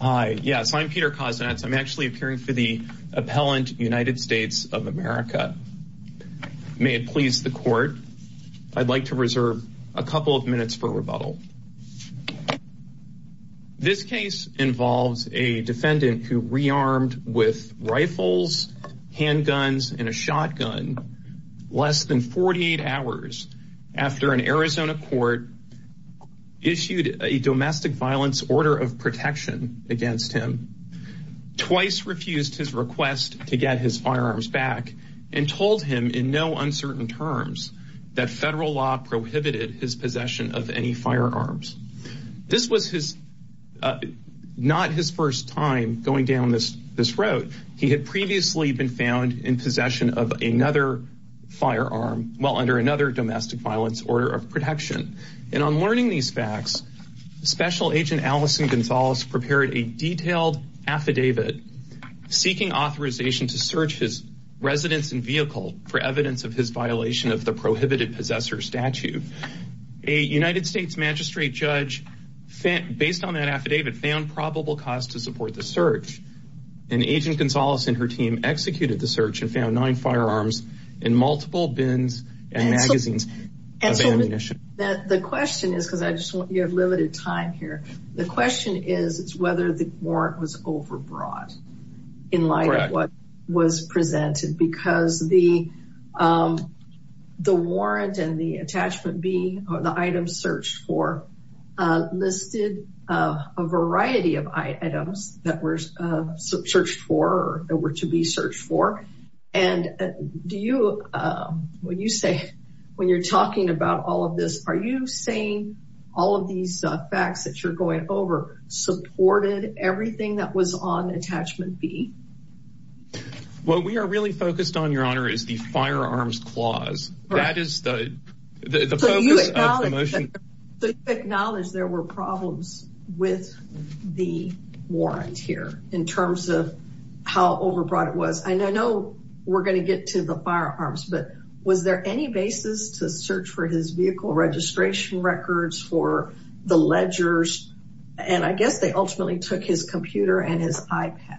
Hi, yes, I'm Peter Koznetz. I'm actually appearing for the appellant United States of America. May it please the court, I'd like to reserve a couple of minutes for rebuttal. This case involves a defendant who rearmed with rifles, handguns, and a shotgun less than 48 hours after an Arizona court issued a domestic violence order of protection against him. Twice refused his request to get his firearms back and told him in no uncertain terms that federal law prohibited his possession of any firearms. This was not his first time going down this road. He had previously been found in possession of another firearm, well under another domestic violence order of protection. And on learning these facts, Special Agent Allison Gonzalez prepared a detailed affidavit seeking authorization to search his residence and vehicle for evidence of his violation of the prohibited possessor statute. A United States magistrate judge, based on that affidavit, found probable cause to support the search. And Agent Gonzalez and her team executed the search and found nine firearms in multiple bins and magazines of ammunition. And so the question is, because I just want your limited time here, the question is whether the warrant was overbrought in light of what was presented. Because the warrant and the attachment B, or the items searched for, listed a variety of items that were searched for or that were to be searched for. And do you, when you say, when you're talking about all of this, are you saying all of these facts that you're going over supported everything that was on attachment B? What we are really focused on, Your Honor, is the firearms clause. That is the focus of the motion. Acknowledge there were problems with the warrant here in terms of how overbrought it was. I know we're going to get to the firearms, but was there any basis to search for his vehicle registration records for the ledgers? And I guess they ultimately took his computer and his iPad.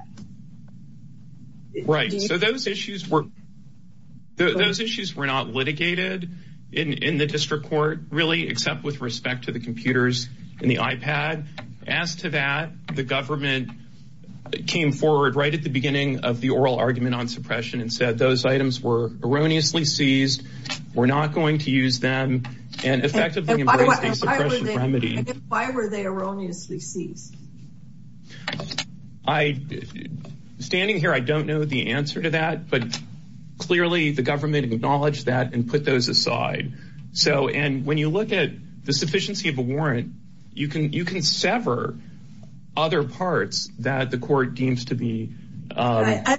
Right. So those issues were, those issues were not litigated in the district court, really, except with respect to the computers and the iPad. As to that, the government came forward right at the beginning of the oral argument on suppression and said those items were erroneously seized. We're not going to use them and effectively embrace the suppression remedy. Why were they erroneously seized? I, standing here, I don't know the answer to that, but clearly the government acknowledged that and those aside. So, and when you look at the sufficiency of a warrant, you can sever other parts that the court deems to be. I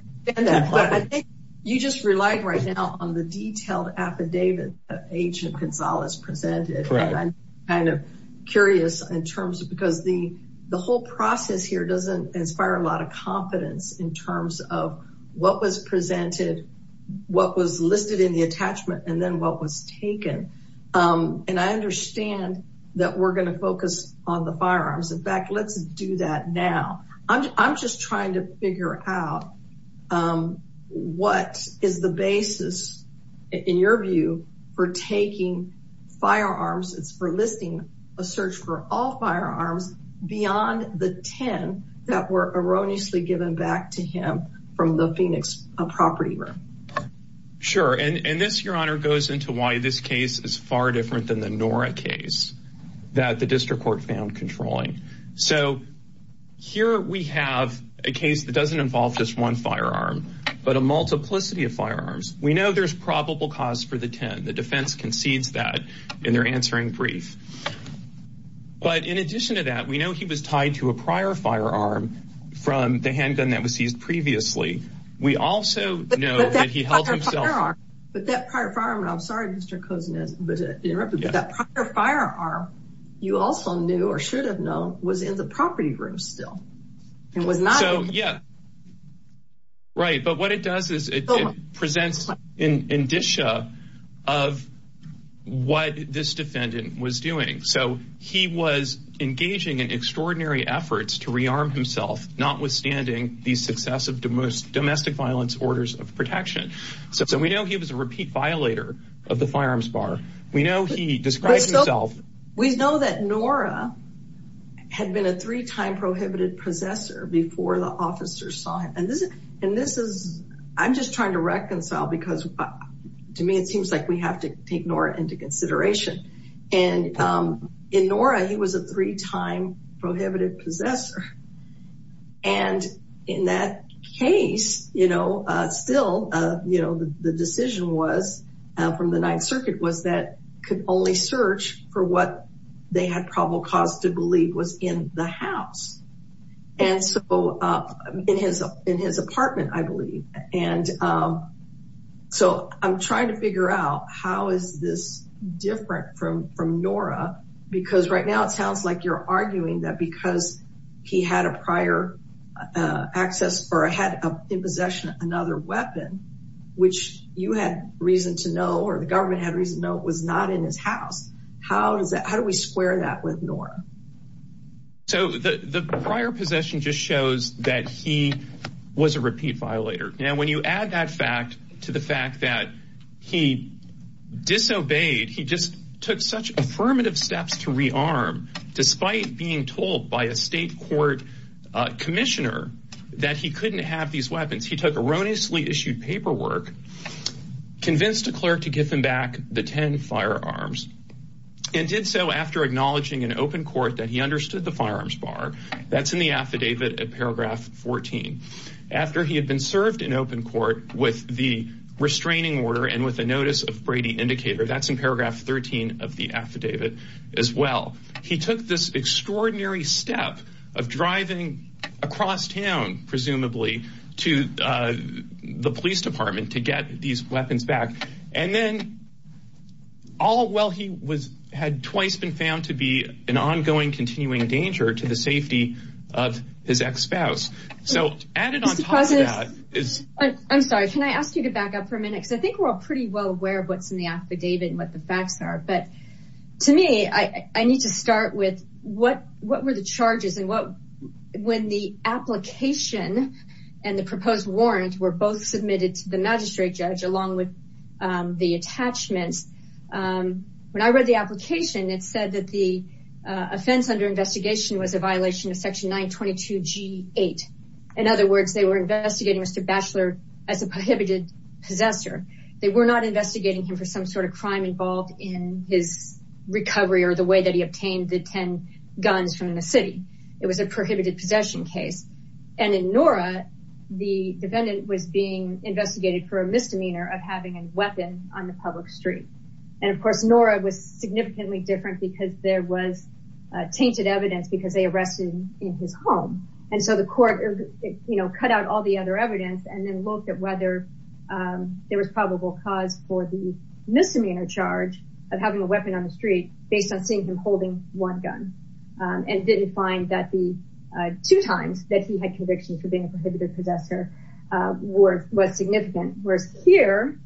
think you just relied right now on the detailed affidavit that Agent Gonzalez presented. I'm kind of curious in terms of, because the whole process here doesn't inspire a lot of confidence in terms of what was presented, what was listed in the attachment, and then what was taken. And I understand that we're going to focus on the firearms. In fact, let's do that now. I'm just trying to figure out what is the basis, in your view, for taking firearms. It's for listing a search for all firearms beyond the 10 that were erroneously given back to him from the Phoenix property room. Sure. And this, your honor, goes into why this case is far different than the Nora case that the district court found controlling. So, here we have a case that doesn't involve just one firearm, but a multiplicity of firearms. We know there's probable cause for the 10. The defense concedes that in their answering brief. But in addition to that, we know he was tied to a prior firearm from the handgun that was seized previously. We also know that he held himself. But that prior firearm, and I'm sorry, Mr. Kozen, to interrupt you, but that prior firearm, you also knew, or should have known, was in the property room still. It was not. So, yeah. Right. But what it does is it presents an indicia of what this defendant was doing. So, he was engaging in extraordinary efforts to rearm himself, notwithstanding the success of domestic violence orders of protection. So, we know he was a repeat violator of the firearms bar. We know he described himself. We know that Nora had been a three-time prohibited possessor before the officers saw him. And this is, I'm just trying to reconcile because, to me, it seems like we he was a three-time prohibited possessor. And in that case, still, the decision was, from the Ninth Circuit, was that could only search for what they had probable cause to believe was in the house. And so, in his apartment, I believe. And so, I'm trying to figure out how is this different from Nora? Because right now, it sounds like you're arguing that because he had a prior access or had in possession another weapon, which you had reason to know, or the government had reason to know, was not in his house. How do we square that with Nora? So, the prior possession just shows that he was a repeat violator. Now, when you add that fact to the fact that he disobeyed, he just took such affirmative steps to rearm, despite being told by a state court commissioner that he couldn't have these weapons. He took erroneously issued paperwork, convinced a clerk to give him back the 10 firearms, and did so after acknowledging in open court that he understood the firearms bar. That's in the affidavit at paragraph 14. After he had been served in open court with the restraining order and with a notice of Brady indicator, that's in paragraph 13 of the affidavit as well. He took this extraordinary step of driving across town, presumably, to the police department to get these weapons back. And then, all while he had twice been found to be an ongoing continuing danger to the safety of his ex-spouse. So, added on top of that is... I'm sorry. Can I ask you to back up for a minute? Because I think we're all pretty well aware of what's in the affidavit and what the facts are. But to me, I need to start with what were the charges and when the application and the proposed warrant were both submitted to the magistrate judge, along with the attachments. When I read the application, it said that the offense under investigation was a violation of section 922 G8. In other words, they were investigating Mr. Batchelor as a prohibited possessor. They were not investigating him for some sort of crime involved in his recovery or the way that he obtained the 10 guns from the city. It was a prohibited possession case. And in Nora, the defendant was being investigated for a misdemeanor of having a weapon on the public street. And of course, Nora was significantly different because there was tainted evidence because they arrested him in his home. And so the court cut out all the other evidence and then looked at whether there was probable cause for the misdemeanor charge of having a weapon on the street based on seeing him holding one gun and didn't find that the two times that he had convictions for being a prohibited possessor was significant. Whereas here,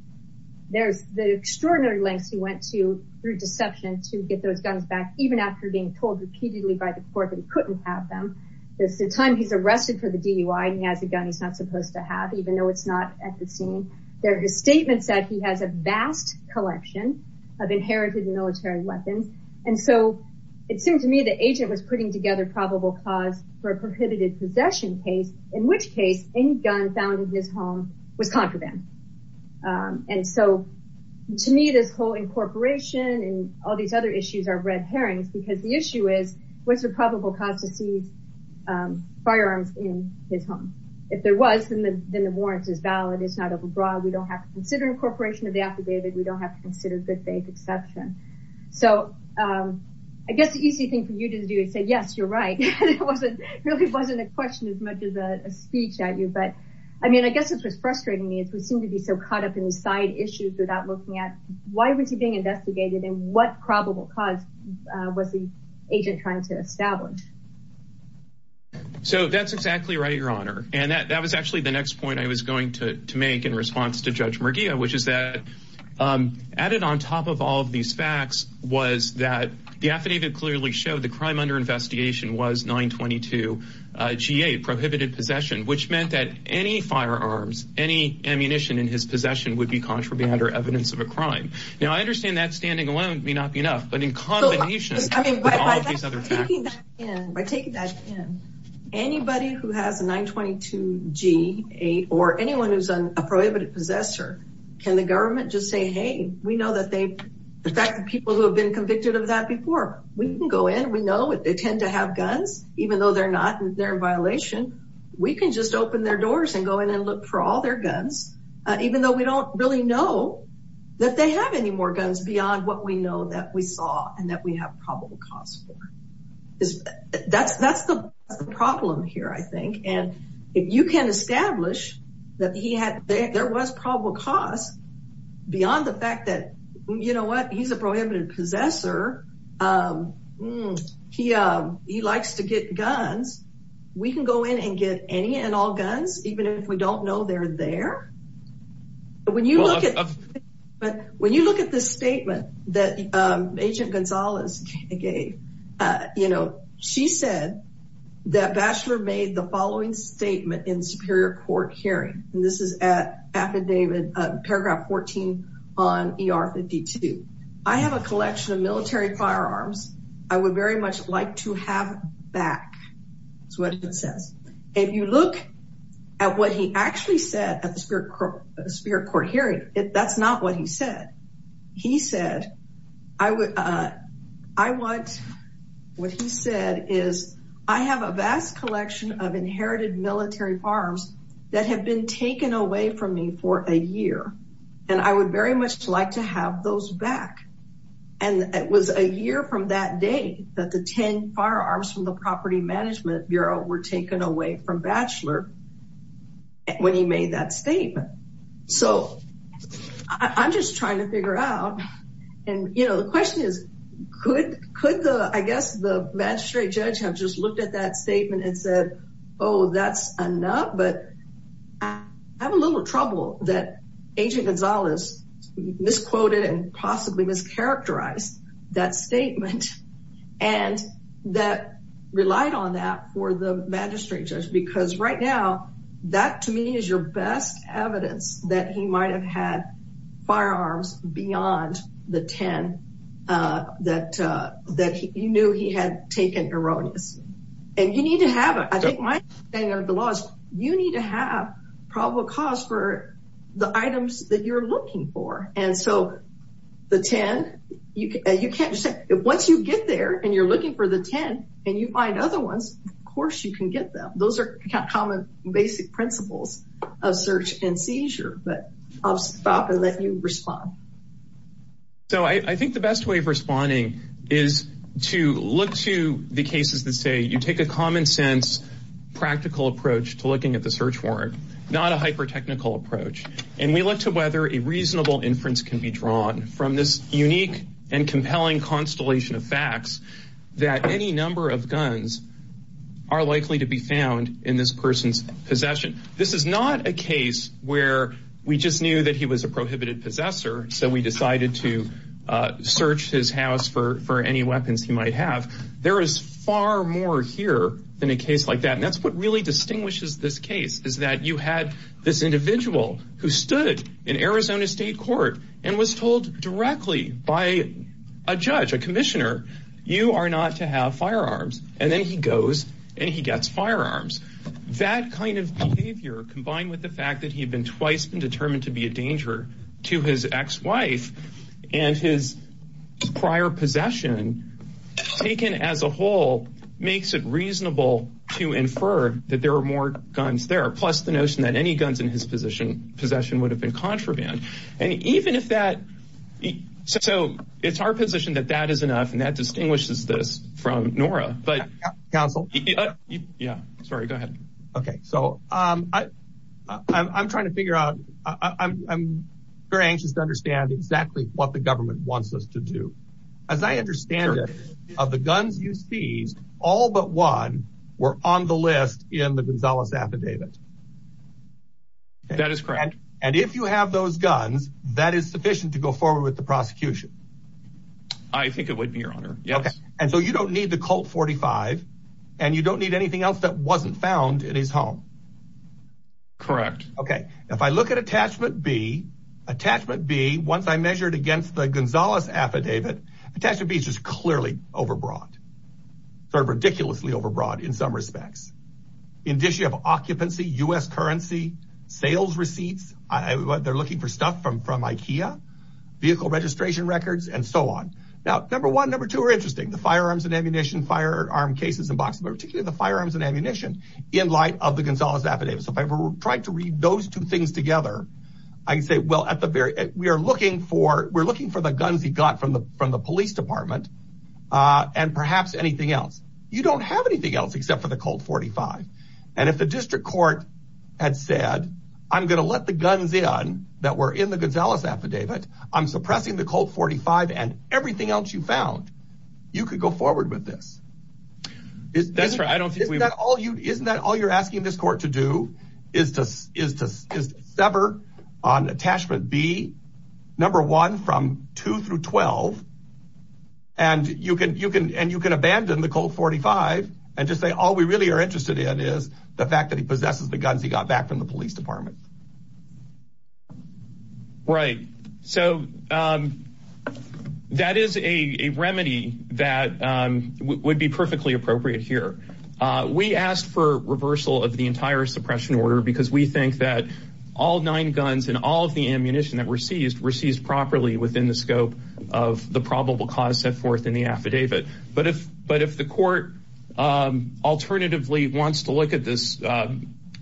there's the extraordinary lengths he went to through deception to get those guns back, even after being told repeatedly by the court that he couldn't have them. There's the time he's arrested for the DUI and he has a gun he's not supposed to have, even though it's not at the scene. There are statements that he has a vast collection of inherited military weapons. And so it seemed to me the agent was putting together probable cause for a prohibited possession case, in which case any gun found in his home was contraband. And so to me, this whole incorporation and all these other issues are red herrings because the issue is, what's the probable cause to seize firearms in his home? If there was, then the warrants is valid. It's not overbroad. We don't have to consider incorporation of the affidavit. We don't have to consider good faith exception. So I guess the easy thing for you to do is say, yes, you're right. It really wasn't a question as much as a speech at you. But I mean, I guess what's frustrating me is we seem to be so caught up in these side issues without looking at why was he investigated and what probable cause was the agent trying to establish. So that's exactly right, Your Honor. And that was actually the next point I was going to make in response to Judge Murguia, which is that added on top of all of these facts was that the affidavit clearly showed the crime under investigation was 922 G8, prohibited possession, which meant that any firearms, any ammunition in his possession would be contraband or evidence of a crime. Now, I understand that standing alone may not be enough, but in combination with all these other facts. By taking that in, anybody who has a 922 G8 or anyone who's a prohibited possessor, can the government just say, hey, we know that they, the fact that people who have been convicted of that before, we can go in, we know they tend to have guns, even though they're not, they're in violation. We can just open their doors and go in and look for all their guns, even though we don't really know that they have any more guns beyond what we know that we saw and that we have probable cause for. That's the problem here, I think. And if you can establish that he had, there was probable cause beyond the fact that, you know what, he's a prohibited possessor. He likes to get guns. We can go in and get any and all guns, even if we don't know they're there. When you look at this statement that Agent Gonzalez gave, you know, she said that Batchelor made the following statement in superior court hearing, and this is at affidavit, paragraph 14 on ER 52. I have a collection of military firearms. I would very much like to have back, is what it says. If you look at what he actually said at the superior court hearing, that's not what he said. He said, what he said is, I have a vast collection of inherited military firearms that have been taken away from me for a year, and I would very much like to have those back. And it was a year from that day that the 10 firearms from the Property Management Bureau were taken away from Batchelor when he made that statement. So I'm just trying to figure out, and you know, the question is, could the, I guess the magistrate judge have just looked at that statement and said, oh, that's enough, but I have a little trouble that Agent Gonzalez misquoted and possibly mischaracterized that statement, and that relied on that for the magistrate judge, because right now, that to me is your best evidence that he might have had firearms beyond the 10 that he knew he had taken erroneously. And you need to have, I think my understanding of the law is, you need to have probable cause for the items that you're looking for. And so the 10, you can't just say, once you get there and you're looking for the 10 and you find other ones, of course you can get them. Those are kind of common basic principles of search and seizure, but I'll stop and let you respond. So I think the best way of responding is to look to the cases that say you take a common sense, practical approach to looking at the search warrant, not a hyper-technical approach. And we look to whether a reasonable inference can be drawn from this unique and compelling constellation of facts that any number of guns are likely to be found in this person's possession. This is not a case where we just knew that he was a prohibited possessor, so we decided to search his house for any weapons he might have. There is far more here than a case like that. And that's what really distinguishes this case, is that you had this individual who stood in Arizona State Court and was told directly by a judge, a commissioner, you are not to have firearms. And then he goes and he gets firearms. That kind of behavior combined with the fact that he had been twice been determined to be a danger to his ex-wife and his prior possession, taken as a whole, makes it reasonable to infer that there are more guns there. Plus the notion that any guns in his possession would have been contraband. And even if that... So it's our position that that is enough and that distinguishes this from Nora, but... Counsel. Yeah, sorry, go ahead. Okay, so I'm trying to figure out, I'm very anxious to understand exactly what the government wants us to do. As I understand it, of the guns you seized, all but one were on the list in the Gonzalez affidavit. That is correct. And if you have those guns, that is sufficient to go forward with the prosecution? I think it would be, your honor. Yes. Okay. And so you don't need the Colt 45 and you don't need anything else that wasn't found in his home? Correct. Okay. If I look at attachment B, attachment B, once I measured against the Gonzalez affidavit, attachment B is just clearly overbroad, sort of ridiculously overbroad in some respects. In addition, you have occupancy, U.S. currency, sales receipts. They're looking for stuff from Ikea, vehicle registration records and so on. Now, number one, number two are interesting, the firearms and ammunition, firearm cases and boxes, but particularly the firearms and ammunition in light of the Gonzalez affidavit. So if I were trying to read those two things together, I can say, well, we're looking for the guns he got from the police department and perhaps anything else. You don't have anything else except for the Colt 45. And if the district court had said, I'm going to let the guns in that were in the Gonzalez affidavit, I'm suppressing the Colt 45 and everything else you found, you could go forward with this. Isn't that all you're asking this court to do is to sever on attachment B, number one, two through 12 and you can abandon the Colt 45 and just say, all we really are interested in is the fact that he possesses the guns he got back from the police department. Right. So that is a remedy that would be perfectly appropriate here. We asked for reversal of the entire suppression order because we think that all nine guns and all of the scope of the probable cause set forth in the affidavit. But if, but if the court alternatively wants to look at this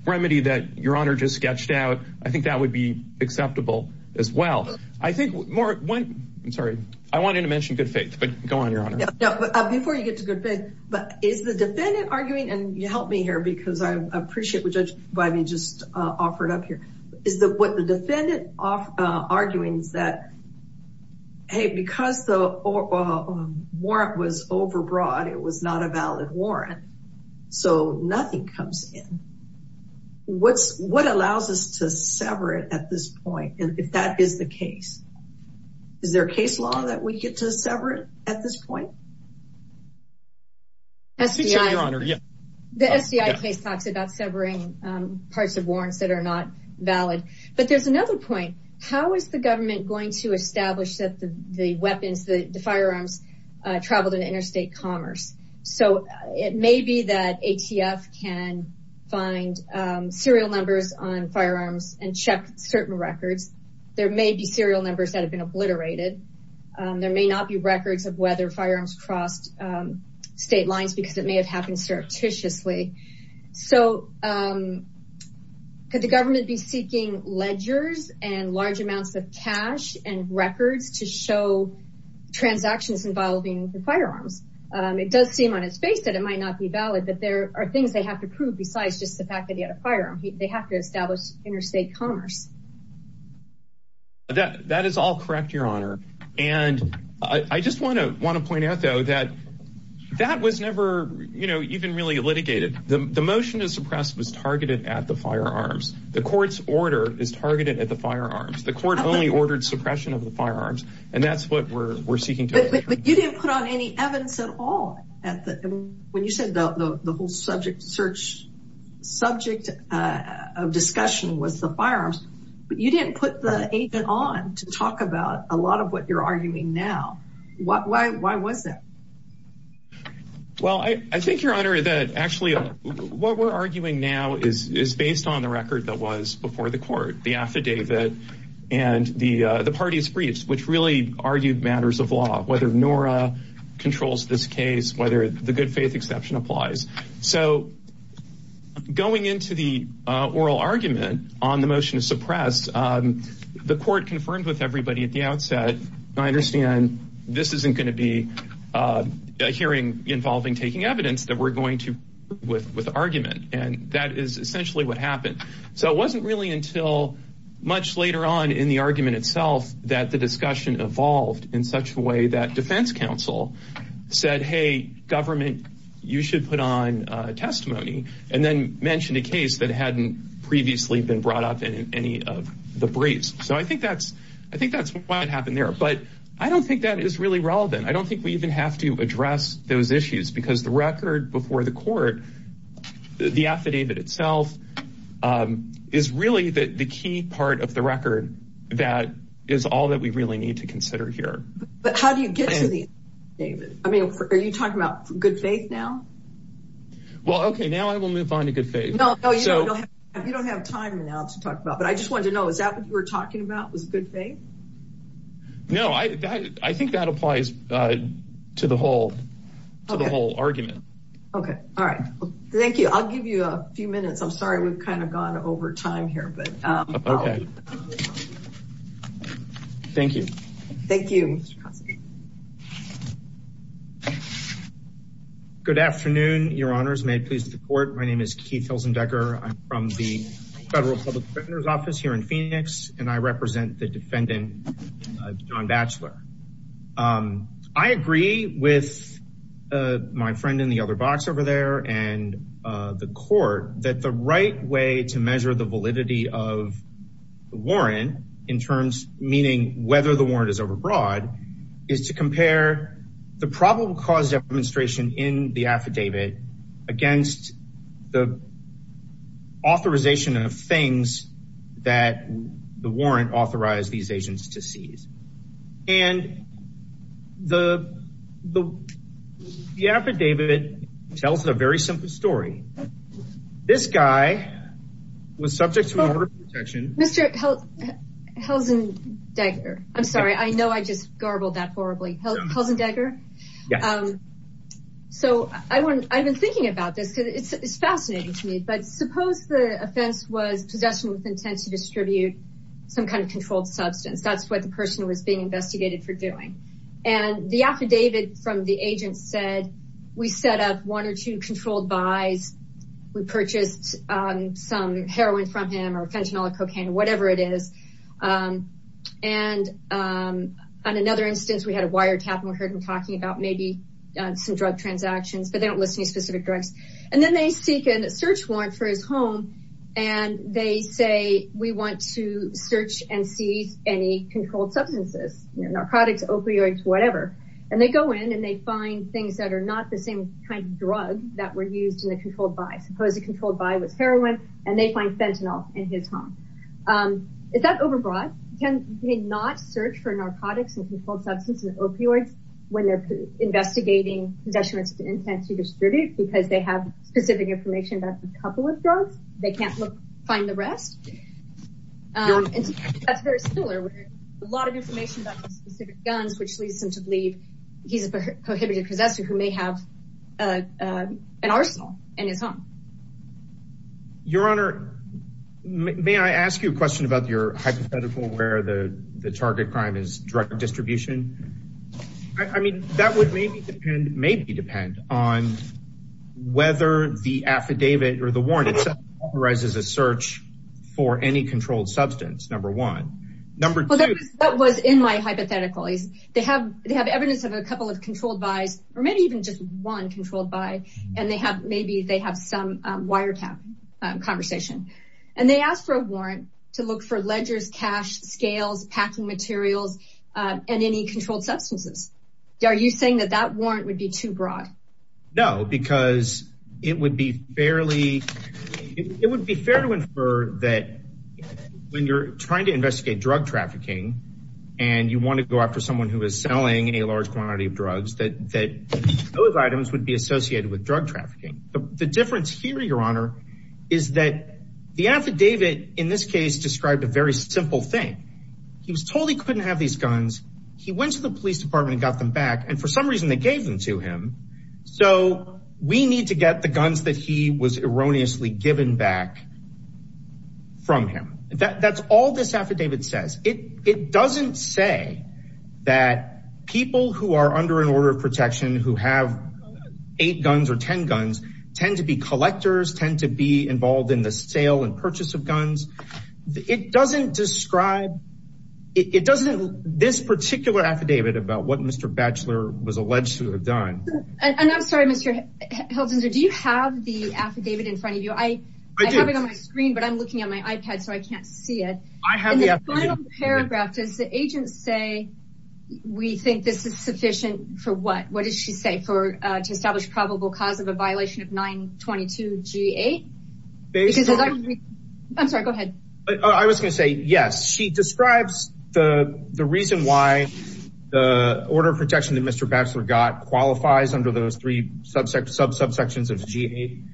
remedy that your honor just sketched out, I think that would be acceptable as well. I think more, I'm sorry, I wanted to mention good faith, but go on your honor. Before you get to good faith, but is the defendant arguing and you helped me here because I appreciate what judge Bivey just offered up here. Is that what the defendant arguing is that hey, because the warrant was overbroad, it was not a valid warrant. So nothing comes in. What's, what allows us to sever it at this point? And if that is the case, is there a case law that we get to sever it at this point? The SDI case talks about severing parts of warrants that are not valid, but there's another point. How is the government going to establish that the weapons, the firearms traveled in interstate commerce? So it may be that ATF can find serial numbers on firearms and check certain records. There may be serial numbers that have been obliterated. There may not be records of whether firearms crossed state lines because it may have happened surreptitiously. So could the government be seeking ledgers and large amounts of cash and records to show transactions involving the firearms? It does seem on its face that it might not be valid, but there are things they have to prove besides just the fact that he had a firearm. They have to establish interstate commerce. That is all correct, your honor. And I just want to point out though, that that was never, you know, even really litigated. The motion to suppress was targeted at the firearms. The court's order is targeted at the firearms. The court only ordered suppression of the firearms and that's what we're seeking. But you didn't put on any evidence at all. When you said the whole subject of discussion was the firearms, but you didn't put the agent on to talk about a lot of what you're arguing now. Why was that? Well, I think, your honor, that actually what we're arguing now is based on the record that was before the court, the affidavit and the party's briefs, which really argued matters of the good faith exception applies. So going into the oral argument on the motion to suppress, the court confirmed with everybody at the outset, I understand this isn't going to be a hearing involving taking evidence that we're going to with argument. And that is essentially what happened. So it wasn't really until much later on in the argument itself that the discussion evolved in such a way that defense counsel said, hey, government, you should put on a testimony and then mentioned a case that hadn't previously been brought up in any of the briefs. So I think that's, I think that's what happened there. But I don't think that is really relevant. I don't think we even have to address those issues because the record before the court, the affidavit itself is really the key part of the record that is all that we really need to consider here. But how do you get to the affidavit? I mean, are you talking about good faith now? Well, okay, now I will move on to good faith. No, you don't have time now to talk about, but I just wanted to know, is that what you were talking about was good faith? No, I think that applies to the whole argument. Okay. All right. Thank you. I'll give you a few minutes. Sorry, we've kind of gone over time here. Thank you. Thank you. Good afternoon, your honors. May it please the court. My name is Keith Hilsendecker. I'm from the federal public defender's office here in Phoenix, and I represent the defendant, John to measure the validity of the warrant in terms, meaning whether the warrant is overbroad, is to compare the probable cause demonstration in the affidavit against the authorization of things that the warrant authorized these agents to seize. And the affidavit tells a very simple story. This guy was subject to overprotection. Mr. Hilsendecker. I'm sorry. I know I just garbled that horribly. Hilsendecker. So I've been thinking about this because it's fascinating to me, but suppose the offense was possession with intent to distribute some kind of controlled substance. That's what the person was being investigated for doing. And the affidavit from the agent said, we set up one or two controlled buys. We purchased some heroin from him or fentanyl, cocaine, whatever it is. And on another instance, we had a wiretap and we heard him talking about maybe some drug transactions, but they don't list any specific drugs. And then they seek a search warrant for his home. And they say, we want to search and see any controlled substances, narcotics, opioids, whatever. And they go in and they find things that are not the same kind of drug that were used in the controlled buys. Suppose the controlled buy was heroin and they find fentanyl in his home. Is that overbroad? Can they not search for narcotics and controlled substance and opioids when they're investigating possessions with intent to distribute because they have specific information about a couple of drugs. They can't look, find the rest. Um, that's very similar. A lot of information about the specific guns, which leads them to believe he's a prohibited possessor who may have, uh, uh, an arsenal in his home. Your honor, may I ask you a question about your hypothetical where the target crime is drug distribution? I mean, that would maybe depend, maybe depend on whether the affidavit or the warrant itself authorizes a search for any controlled substance. Number one. Number two, that was in my hypothetical is they have, they have evidence of a couple of controlled buys, or maybe even just one controlled by, and they have, maybe they have some, um, wiretap conversation and they asked for a warrant to look for ledgers, cash scales, packing materials, uh, and any controlled substances. Are you saying that that warrant would be too broad? No, because it would be fairly, it would be fair to infer that when you're trying to investigate drug trafficking and you want to go after someone who is selling a large quantity of drugs, that, that those items would be associated with drug trafficking. The difference here, your honor, is that the affidavit in this case described a very simple thing. He was told he couldn't have these guns. He went to the police department and got them back. And for some reason they gave them to him. So we need to get the guns that he was erroneously given back from him. That that's all this affidavit says. It, it doesn't say that people who are under an order of protection who have eight guns or 10 guns tend to be collectors, tend to be involved in the sale and purchase of guns. It doesn't describe, it doesn't, this particular affidavit about what Mr. Batchelor was alleged to have done. And I'm sorry, Mr. Heldenser, do you have the affidavit in front of you? I have it on my screen, but I'm looking at my iPad, so I can't see it. And the final paragraph, does the agent say, we think this is sufficient for what? What does she say for, to establish probable cause of a violation of 922 G8? I'm sorry, go ahead. I was going to say, yes, she describes the reason why the order of protection that Mr. Batchelor got qualifies under those three subsections of G8.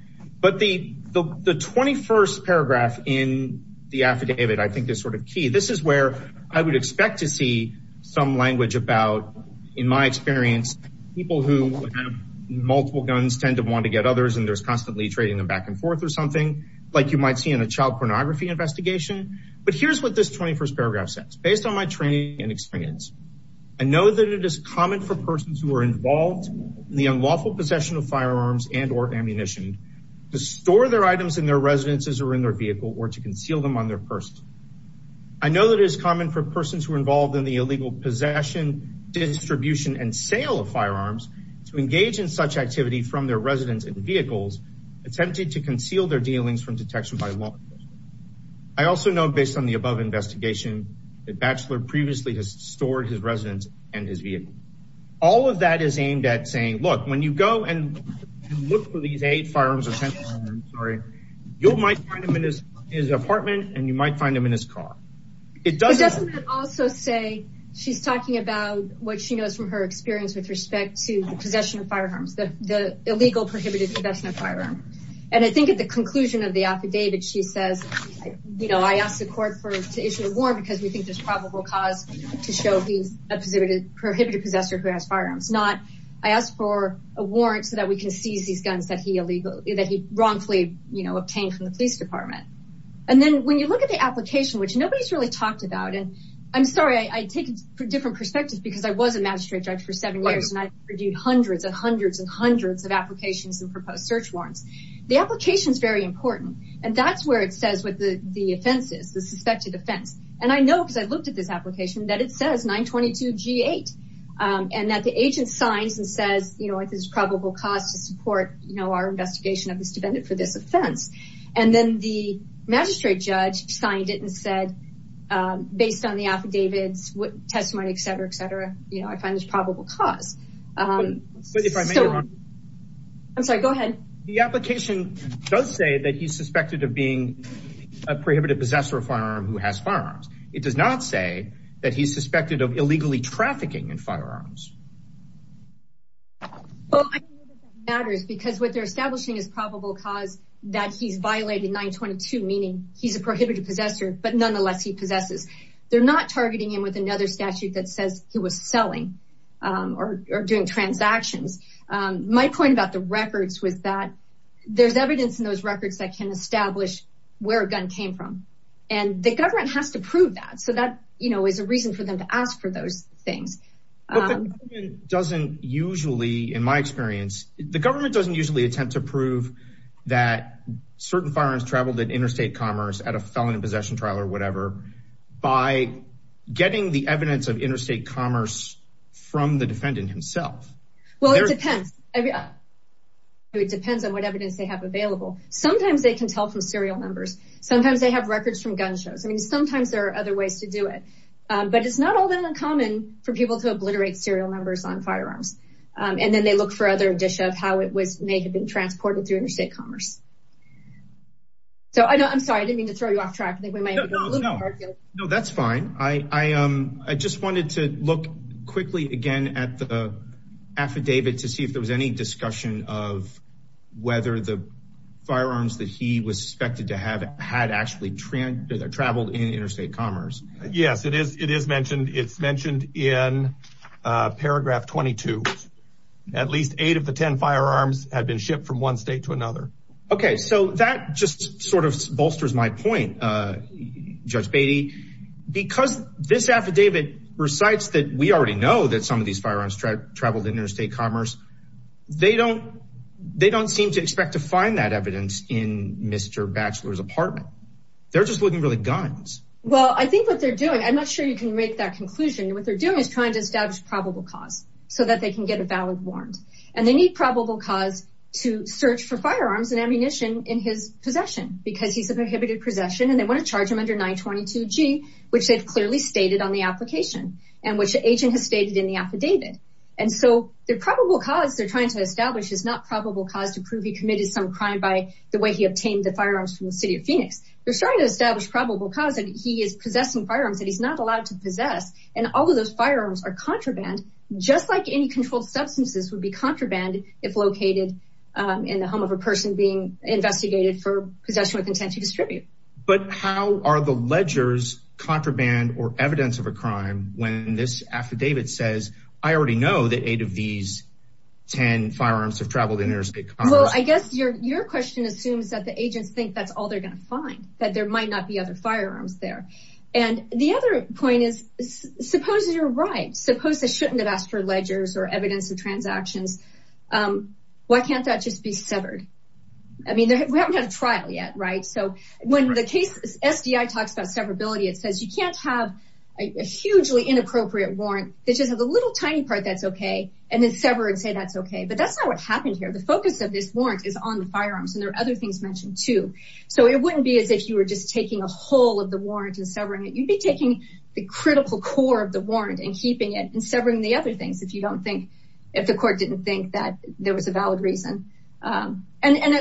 But the 21st paragraph in the affidavit, I think is sort of key. This is where I would expect to see some language about, in my experience, people who multiple guns tend to want to get others and there's constantly trading them back and forth or something like you might see in a child pornography investigation. But here's what this 21st paragraph says, based on my training and experience, I know that it is common for persons who are involved in the unlawful possession of firearms and or ammunition to store their items in their residences or in their vehicle or to conceal them on their person. I know that it is common for persons who are involved in the illegal possession, distribution and sale of firearms to engage in such activity from their residence and vehicles, attempting to conceal their dealings from detection by law enforcement. I also know based on the above investigation that Batchelor previously has stored his residence and his vehicle. All of that is aimed at saying, look, when you go and look for these eight firearms or 10, I'm sorry, you might find them in his apartment and you might find them in his car. It doesn't also say she's talking about what she knows from her experience with respect to the possession of firearms, the illegal prohibited investment firearm. And I think at the conclusion of the affidavit, she says, you know, I asked the court for to issue a warrant because we think there's probable cause to show he's a prohibited possessor who has firearms, not I asked for a warrant so that we can seize these guns that he illegally, that he wrongfully, you know, obtained from the police department. And then when you look at the application, which nobody's really talked about, and I'm sorry, I take it for different perspectives because I was a magistrate judge for seven years and I reviewed hundreds and hundreds and hundreds of applications and proposed search warrants. The application is very important and that's where it says what the offense is, the suspected offense. And I know because I looked at this application that it says 922 G8 and that the agent signs and says, you know, if there's probable cause to support, you know, our investigation of this defendant for this offense. And then the magistrate judge signed it and said, um, based on the affidavits, what testimony, et cetera, et cetera, you know, I find this probable cause. Um, I'm sorry, go ahead. The application does say that he's suspected of being a prohibited possessor of firearm who has firearms. It does not say that he's suspected of illegally trafficking in firearms matters because what they're establishing is probable cause that he's violated 922, meaning he's a prohibited possessor, but nonetheless he possesses. They're not targeting him with another statute that says he was selling, um, or, or doing transactions. Um, my point about the records was that there's evidence in those records that can establish where a gun came from and the government has to prove that. So that, you know, is a reason for them to ask for those things. Um, doesn't usually, in my experience, the government doesn't usually attempt to prove that certain firearms traveled at interstate commerce at a felony possession trial or whatever, by getting the evidence of interstate commerce from the defendant himself. Well, it depends. It depends on what evidence they have available. Sometimes they can tell from serial numbers. Sometimes they have records from gun shows. I mean, sometimes there are other ways to do it. Um, but it's not all that uncommon for people to obliterate serial numbers on firearms. Um, and then they look for other addition of how it was, may have been transported through interstate commerce. So I know, I'm sorry, I didn't mean to throw you off track. I think we might. No, that's fine. I, I, um, I just wanted to look quickly again at the affidavit to see if there was any discussion of whether the firearms that he was suspected to have had actually traveled in interstate commerce. Yes, it is. It is mentioned. It's mentioned in paragraph 22. At least eight of the 10 firearms had been shipped from one state to another. Okay. So that just sort of bolsters my point, uh, Judge Beatty, because this affidavit recites that we already know that some of these firearms traveled interstate commerce. They don't, they don't seem to expect to find that evidence in Mr. Batchelor's apartment. They're just looking for the guns. Well, I think what they're doing, I'm not sure you can make that conclusion. What they're doing is trying to establish probable cause so that they can get a valid warrant. And they need probable cause to search for firearms and ammunition in his possession because he's a prohibited possession and they want to charge him under 922 G, which they've clearly stated on the application and which the agent has stated in the affidavit. And so the probable cause they're trying to establish is not probable cause to prove he committed some crime by the way he obtained the firearms from the city of Phoenix. They're trying to establish probable cause that he is possessing firearms that he's not allowed to possess. And all of those firearms are contraband, just like any controlled substances would be contraband if located in the home of a person being investigated for possession with intent to distribute. But how are the ledgers contraband or evidence of a crime when this affidavit says, I already know that eight of these 10 firearms have traveled in their state. Well, I guess your question assumes that the agents think that's all they're going to find, that there might not be other firearms there. And the other point is, suppose you're right, suppose they shouldn't have asked for ledgers or evidence of transactions. Why can't that just be severed? I mean, we haven't had a trial yet, right? So when the case SDI talks about severability, it says you can't have a hugely inappropriate warrant. They just have a little tiny part that's okay. And then sever and say that's okay. But that's not what happened here. The focus of this warrant is on the firearms and there are other things mentioned too. So it wouldn't be as if you were just taking a whole of the warrant and severing it. You'd be taking the critical core of the warrant and keeping it and severing the other things if you don't think, if the court didn't think that there was a valid reason. And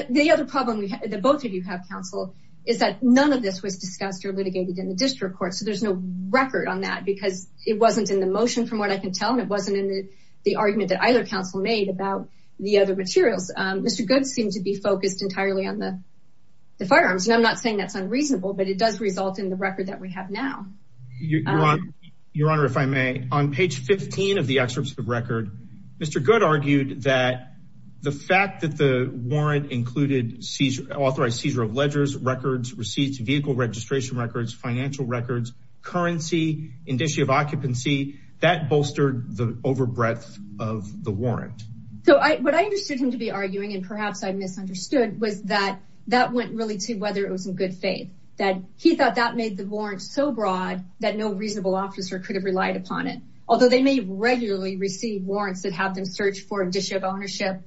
the other problem that both of you have counsel is that none of this was discussed or litigated in district court. So there's no record on that because it wasn't in the motion from what I can tell. And it wasn't in the argument that either counsel made about the other materials. Mr. Good seemed to be focused entirely on the firearms. And I'm not saying that's unreasonable, but it does result in the record that we have now. Your Honor, if I may, on page 15 of the excerpt of the record, Mr. Good argued that the fact that the warrant included authorized seizure of ledgers, records, receipts, vehicle registration records, financial records, currency, indicia of occupancy, that bolstered the over breadth of the warrant. So what I understood him to be arguing, and perhaps I misunderstood, was that that went really to whether it was in good faith. That he thought that made the warrant so broad that no reasonable officer could have relied upon it. Although they may regularly receive warrants that have them search for ownership.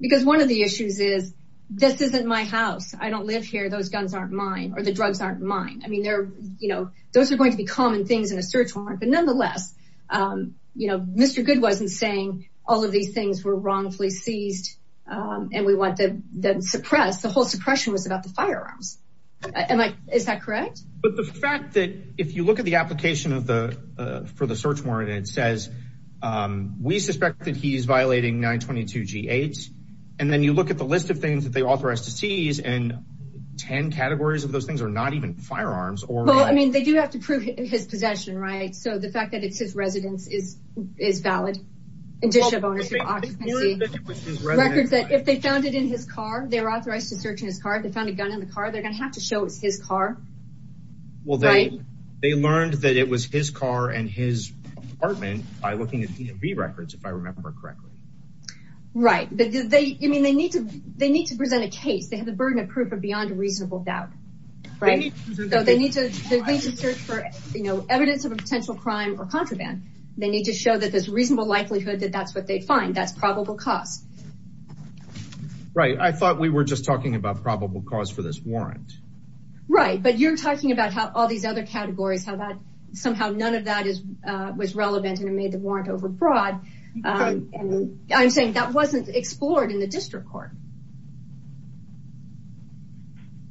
Because one of the issues is, this isn't my house. I don't live here. Those guns aren't mine or the drugs aren't mine. I mean, those are going to be common things in a search warrant. But nonetheless, Mr. Good wasn't saying all of these things were wrongfully seized and we want them suppressed. The whole suppression was about the firearms. Is that correct? But the fact that if you look at the application for the search warrant, it says, we suspect that he's violating 922 G8. And then you look at the list of things that they authorize to seize and 10 categories of those things are not even firearms. Well, I mean, they do have to prove his possession, right? So the fact that it's his residence is valid, indicia of occupancy. Records that if they found it in his car, they were authorized to search in his car, they found a gun in the car, they're going to have to show it's his car. Well, they learned that it was his car and his apartment by looking at the records, if I remember correctly. Right. But they, I mean, they need to, they need to present a case. They have the burden of proof of beyond reasonable doubt. Right. So they need to, they need to search for evidence of a potential crime or contraband. They need to show that there's reasonable likelihood that that's what they find. That's probable cause. Right. I thought we were just talking about probable cause for this warrant. Right. But you're talking about how all these other categories, how that somehow none of that is, uh, was relevant and it made the warrant overbroad. Um, and I'm saying that wasn't explored in the district court.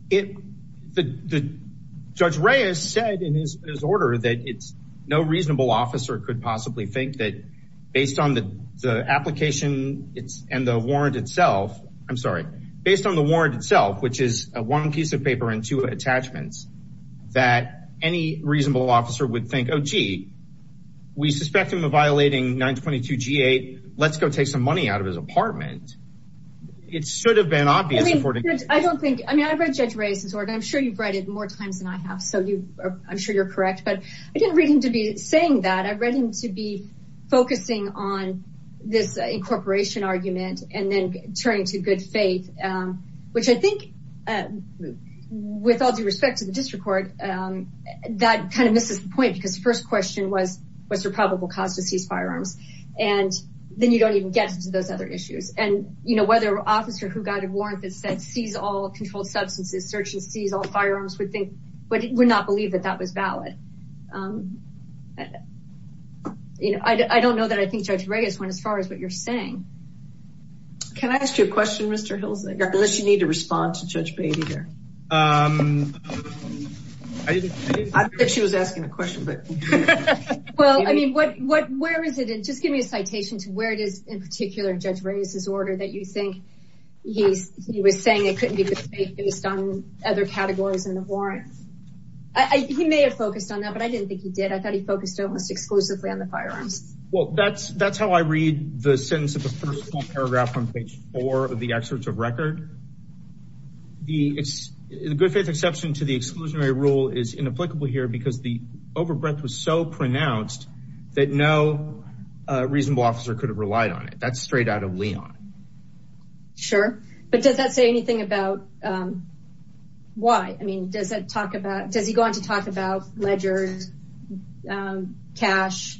It, the, the judge Reyes said in his order that it's no reasonable officer could possibly think that based on the application it's and the warrant itself, I'm sorry, based on the warrant itself, which is a one piece of paper and two attachments that any reasonable officer would think, oh, gee, we suspect him of violating 922 G8. Let's go take some money out of his apartment. It should have been obvious. I don't think, I mean, I've read judge Reyes' order. I'm sure you've read it more times than I have. So you, I'm sure you're correct, but I didn't read him to be saying that I read him to be focusing on this incorporation argument and then turning to faith. Um, which I think, uh, with all due respect to the district court, um, that kind of misses the point because the first question was, was there probable cause to seize firearms? And then you don't even get to those other issues and you know, whether officer who got a warrant that said seize all controlled substances, search and seize all firearms would think, but it would not believe that that was valid. Um, you know, I don't know that I think judge unless you need to respond to judge baby here. Um, I didn't think she was asking a question, but well, I mean, what, what, where is it? And just give me a citation to where it is in particular judge Reyes' order that you think he's, he was saying it couldn't be based on other categories in the warrant. I, he may have focused on that, but I didn't think he did. I thought he focused almost exclusively on the firearms. Well, that's, that's how I read the record. The it's the good faith exception to the exclusionary rule is inapplicable here because the overbreadth was so pronounced that no reasonable officer could have relied on it. That's straight out of Leon. Sure. But does that say anything about, um, why, I mean, does it talk about, does he go on to talk about ledgers, um, cash,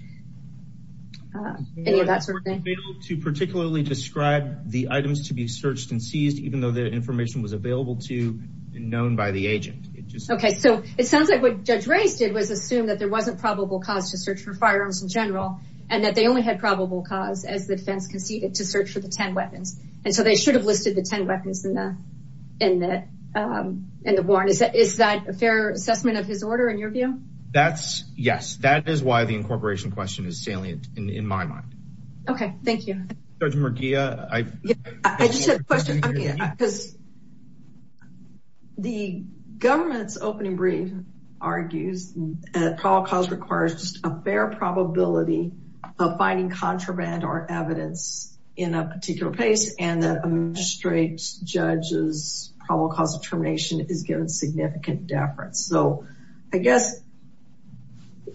uh, any of that sort of thing to particularly describe the items to be searched and seized, even though the information was available to known by the agent. It just, okay. So it sounds like what judge race did was assume that there wasn't probable cause to search for firearms in general, and that they only had probable cause as the defense conceded to search for the 10 weapons. And so they should have listed the 10 weapons in the, in the, um, in the warrant. Is that, is that a fair assessment of his order in your view? That's yes. That is why the incorporation question is salient in my mind. Okay. Thank you. I just had a question because the government's opening brief argues at all cause requires just a fair probability of finding contraband or evidence in a particular place. And that straight judges probable cause of termination is given significant deference. So I guess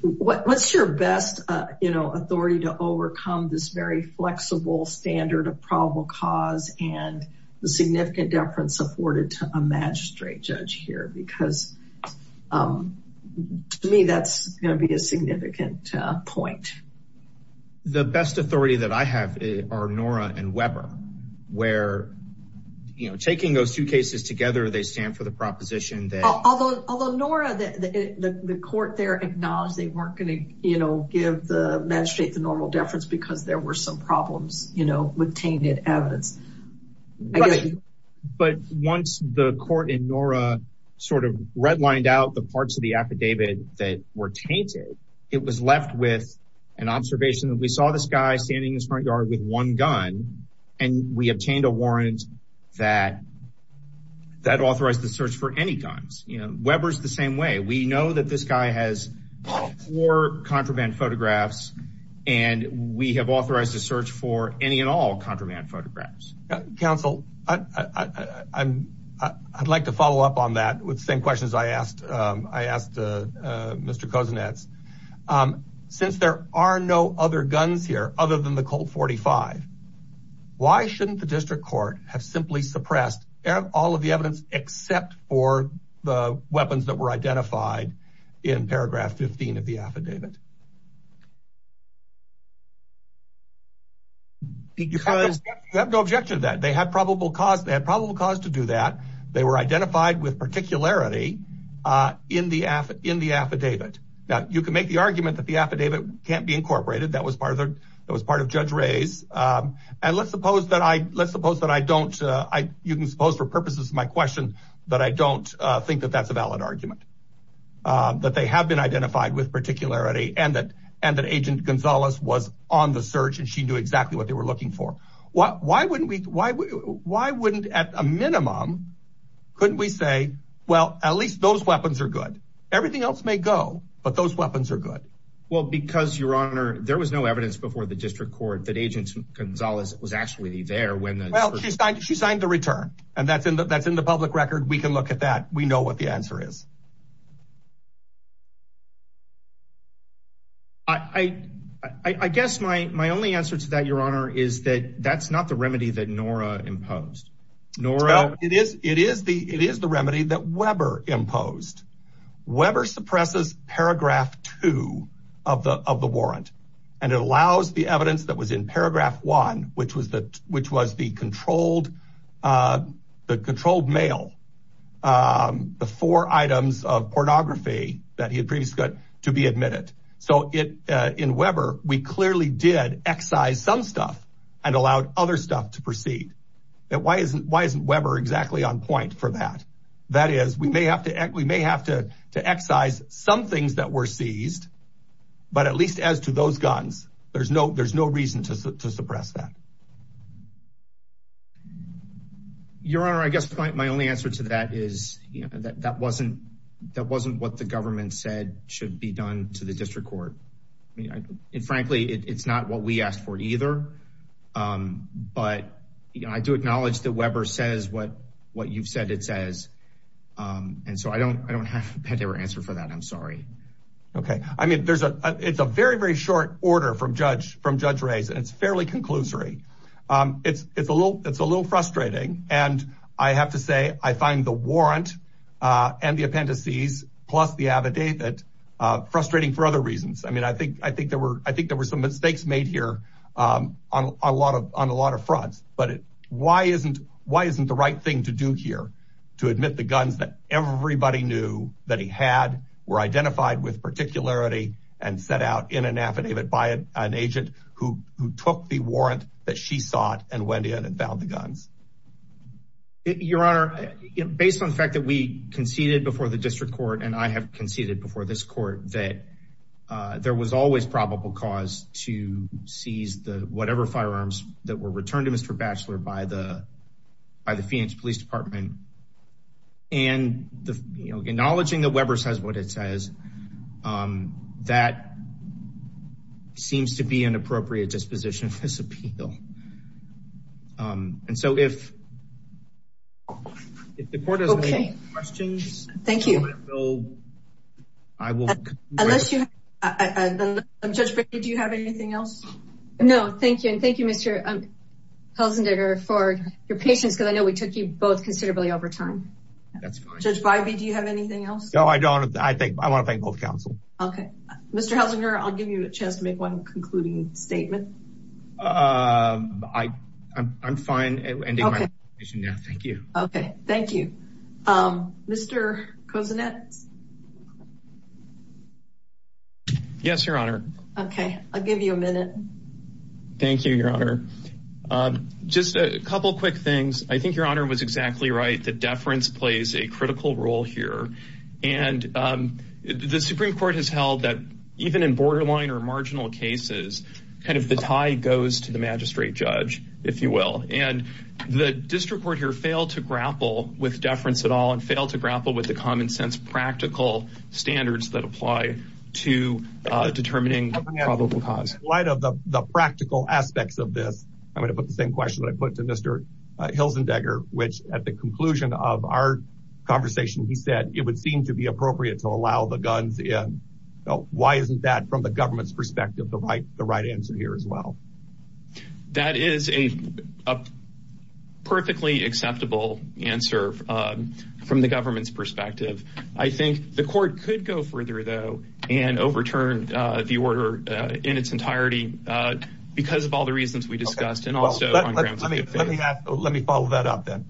what's your best, uh, you know, authority to overcome this very flexible standard of probable cause and the significant deference afforded to a magistrate judge here, because, um, to me, that's going to be a significant point. The best authority that I have are Nora and Weber where, you know, taking those two cases together, they stand for the Although Nora, the court there acknowledged they weren't going to, you know, give the magistrate the normal deference because there were some problems, you know, with tainted evidence. But once the court in Nora sort of redlined out the parts of the affidavit that were tainted, it was left with an observation that we saw this guy standing in his front yard with one gun and we obtained a warrant that that authorized the search for any guns. You know, Weber's the same way. We know that this guy has four contraband photographs and we have authorized a search for any and all contraband photographs. Counsel, I'd like to follow up on that with the same questions I asked, um, I asked, uh, uh, Mr. Kozinets, um, since there are no other guns here other than the Colt 45, why shouldn't the district court have simply suppressed all of the evidence except for the weapons that were identified in paragraph 15 of the affidavit? You have no objection to that. They had probable cause, they had probable cause to do that. They were identified with particularity, uh, in the affidavit. Now you can make the argument that the affidavit can't be incorporated. That was part of the, that was part of Judge Ray's, um, and let's suppose that I, let's suppose that I don't, uh, I, you can suppose for purposes of my question that I don't, uh, think that that's a valid argument, uh, that they have been identified with particularity and that, and that Agent Gonzalez was on the search and she knew exactly what they were looking for. Why, why wouldn't we, why, why wouldn't at a minimum, couldn't we say, well, at least those are good. Everything else may go, but those weapons are good. Well, because your honor, there was no evidence before the district court that Agent Gonzalez was actually there when the, well, she signed, she signed the return and that's in the, that's in the public record. We can look at that. We know what the answer is. I, I, I guess my, my only answer to that, your honor, is that that's not the remedy that Nora imposed. It is, it is the, it is the remedy that Weber imposed. Weber suppresses paragraph two of the, of the warrant. And it allows the evidence that was in paragraph one, which was the, which was the controlled, uh, the controlled mail, um, the four items of pornography that he had previously got to be admitted. So it, uh, in Weber, we clearly did excise some stuff and allowed other stuff to proceed that why isn't, why isn't Weber exactly on point for that? That is, we may have to, we may have to excise some things that were seized, but at least as to those guns, there's no, there's no reason to suppress that. Your honor, I guess my only answer to that is, you know, that, that wasn't, that wasn't what the government said should be done to the district court. I mean, frankly, it's not what we asked for either. Um, but I do acknowledge that Weber says what, what you've said it says. Um, and so I don't, I don't have a better answer for that. I'm sorry. Okay. I mean, there's a, it's a very, very short order from judge, from judge Ray's, and it's fairly conclusory. Um, it's, it's a little, it's a little frustrating and I have to I mean, I think, I think there were, I think there were some mistakes made here, um, on a lot of, on a lot of fronts, but why isn't, why isn't the right thing to do here to admit the guns that everybody knew that he had were identified with particularity and set out in an affidavit by an agent who, who took the warrant that she sought and went in and found the guns. Your honor, based on the fact that we conceded before the district court and I have conceded before this that, uh, there was always probable cause to seize the, whatever firearms that were returned to Mr. Batchelor by the, by the Feehens police department. And the, you know, acknowledging that Weber says what it says, um, that seems to be an appropriate disposition for this appeal. Um, and so if, if the court has any questions. Thank you. I will, I will. Unless you, Judge Bivey, do you have anything else? No, thank you. And thank you, Mr. Helsinger for your patience because I know we took you both considerably over time. That's fine. Judge Bivey, do you have anything else? No, I don't. I think, I want to thank both counsel. Okay. Mr. Helsinger, I'll give you a chance to make one concluding statement. Um, I, I'm, I'm fine. Okay. Thank you. Okay. Thank you. Um, Mr. Kozinets. Yes, your honor. Okay. I'll give you a minute. Thank you, your honor. Um, just a couple of quick things. I think your honor was exactly right. The Supreme court has held that even in borderline or marginal cases, kind of the tie goes to the magistrate judge, if you will. And the district court here failed to grapple with deference at all and failed to grapple with the common sense, practical standards that apply to, uh, determining probable cause. In light of the practical aspects of this, I'm going to put the same question that I put to Mr. Hilzendegger, which at the conclusion of our conversation, he said it would seem to be no. Why isn't that from the government's perspective, the right, the right answer here as well? That is a perfectly acceptable answer, um, from the government's perspective. I think the court could go further though, and overturn, uh, the order, uh, in its entirety, uh, because of all the reasons we discussed and also on grounds of good faith. Let me follow that up then.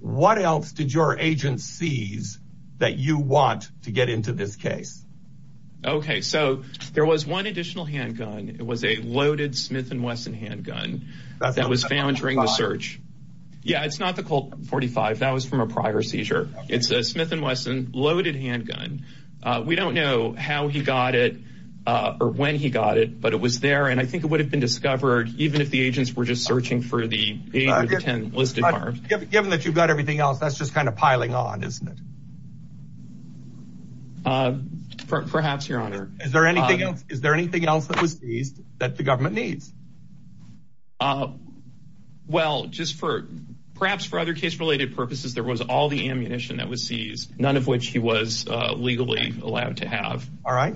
What else did your agent sees that you want to get into this case? Okay. So there was one additional handgun. It was a loaded Smith and Wesson handgun that was found during the search. Yeah. It's not the Colt 45. That was from a prior seizure. It's a Smith and Wesson loaded handgun. Uh, we don't know how he got it, uh, or when he got it, but it was there. And I think it would have been discovered even if the agents were just searching for the eight or the 10 listed arms. Given that you've got everything else, that's just kind of piling on, isn't it? Uh, perhaps your honor. Is there anything else? Is there anything else that was seized that the government needs? Uh, well, just for perhaps for other case related purposes, there was all the ammunition that was seized. None of which he was, uh, legally allowed to have. All right.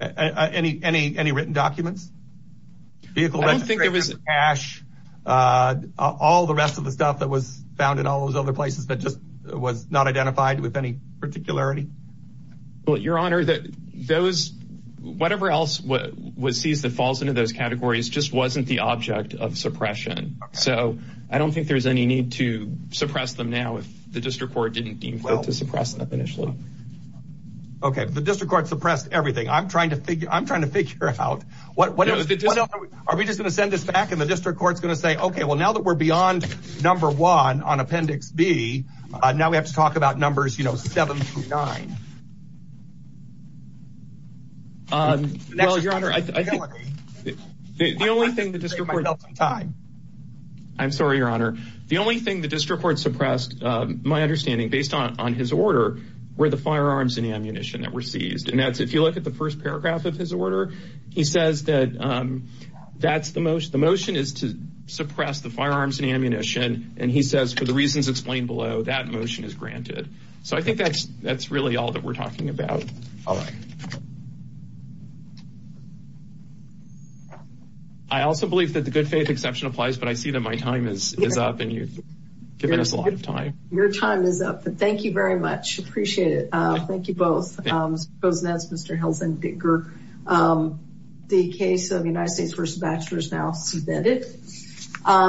Uh, any, any, any written documents? Vehicle registration, cash, uh, all the rest of the stuff that was found in all those other places that just was not identified with any particularity. Well, your honor that those, whatever else was seized that falls into those categories just wasn't the object of suppression. So I don't think there's any need to suppress them now. If the district court didn't deem well to suppress them initially. Okay. The district court suppressed everything. I'm trying to figure, I'm trying to figure out what, what are we just going to send this back in the district court's going to say, okay, well, now that we're beyond number one on appendix B, uh, now we have to talk about numbers, you know, seven through nine. Um, the only thing the district time, I'm sorry, your honor. The only thing the district court suppressed, um, my understanding based on, on his order, where the firearms and ammunition that were seized. And that's, if you look at the first paragraph of his order, he says that, um, that's the most, the motion is to suppress the firearms and ammunition. And he says, for the reasons explained below that motion is granted. So I think that's, that's really all that we're talking about. All right. I also believe that the good time is up and you've given us a lot of time. Your time is up, but thank you very much. Appreciate it. Uh, thank you both. Um, Mr. Helsing, Dicker, um, the case of the United States versus bachelors now suspended. Um,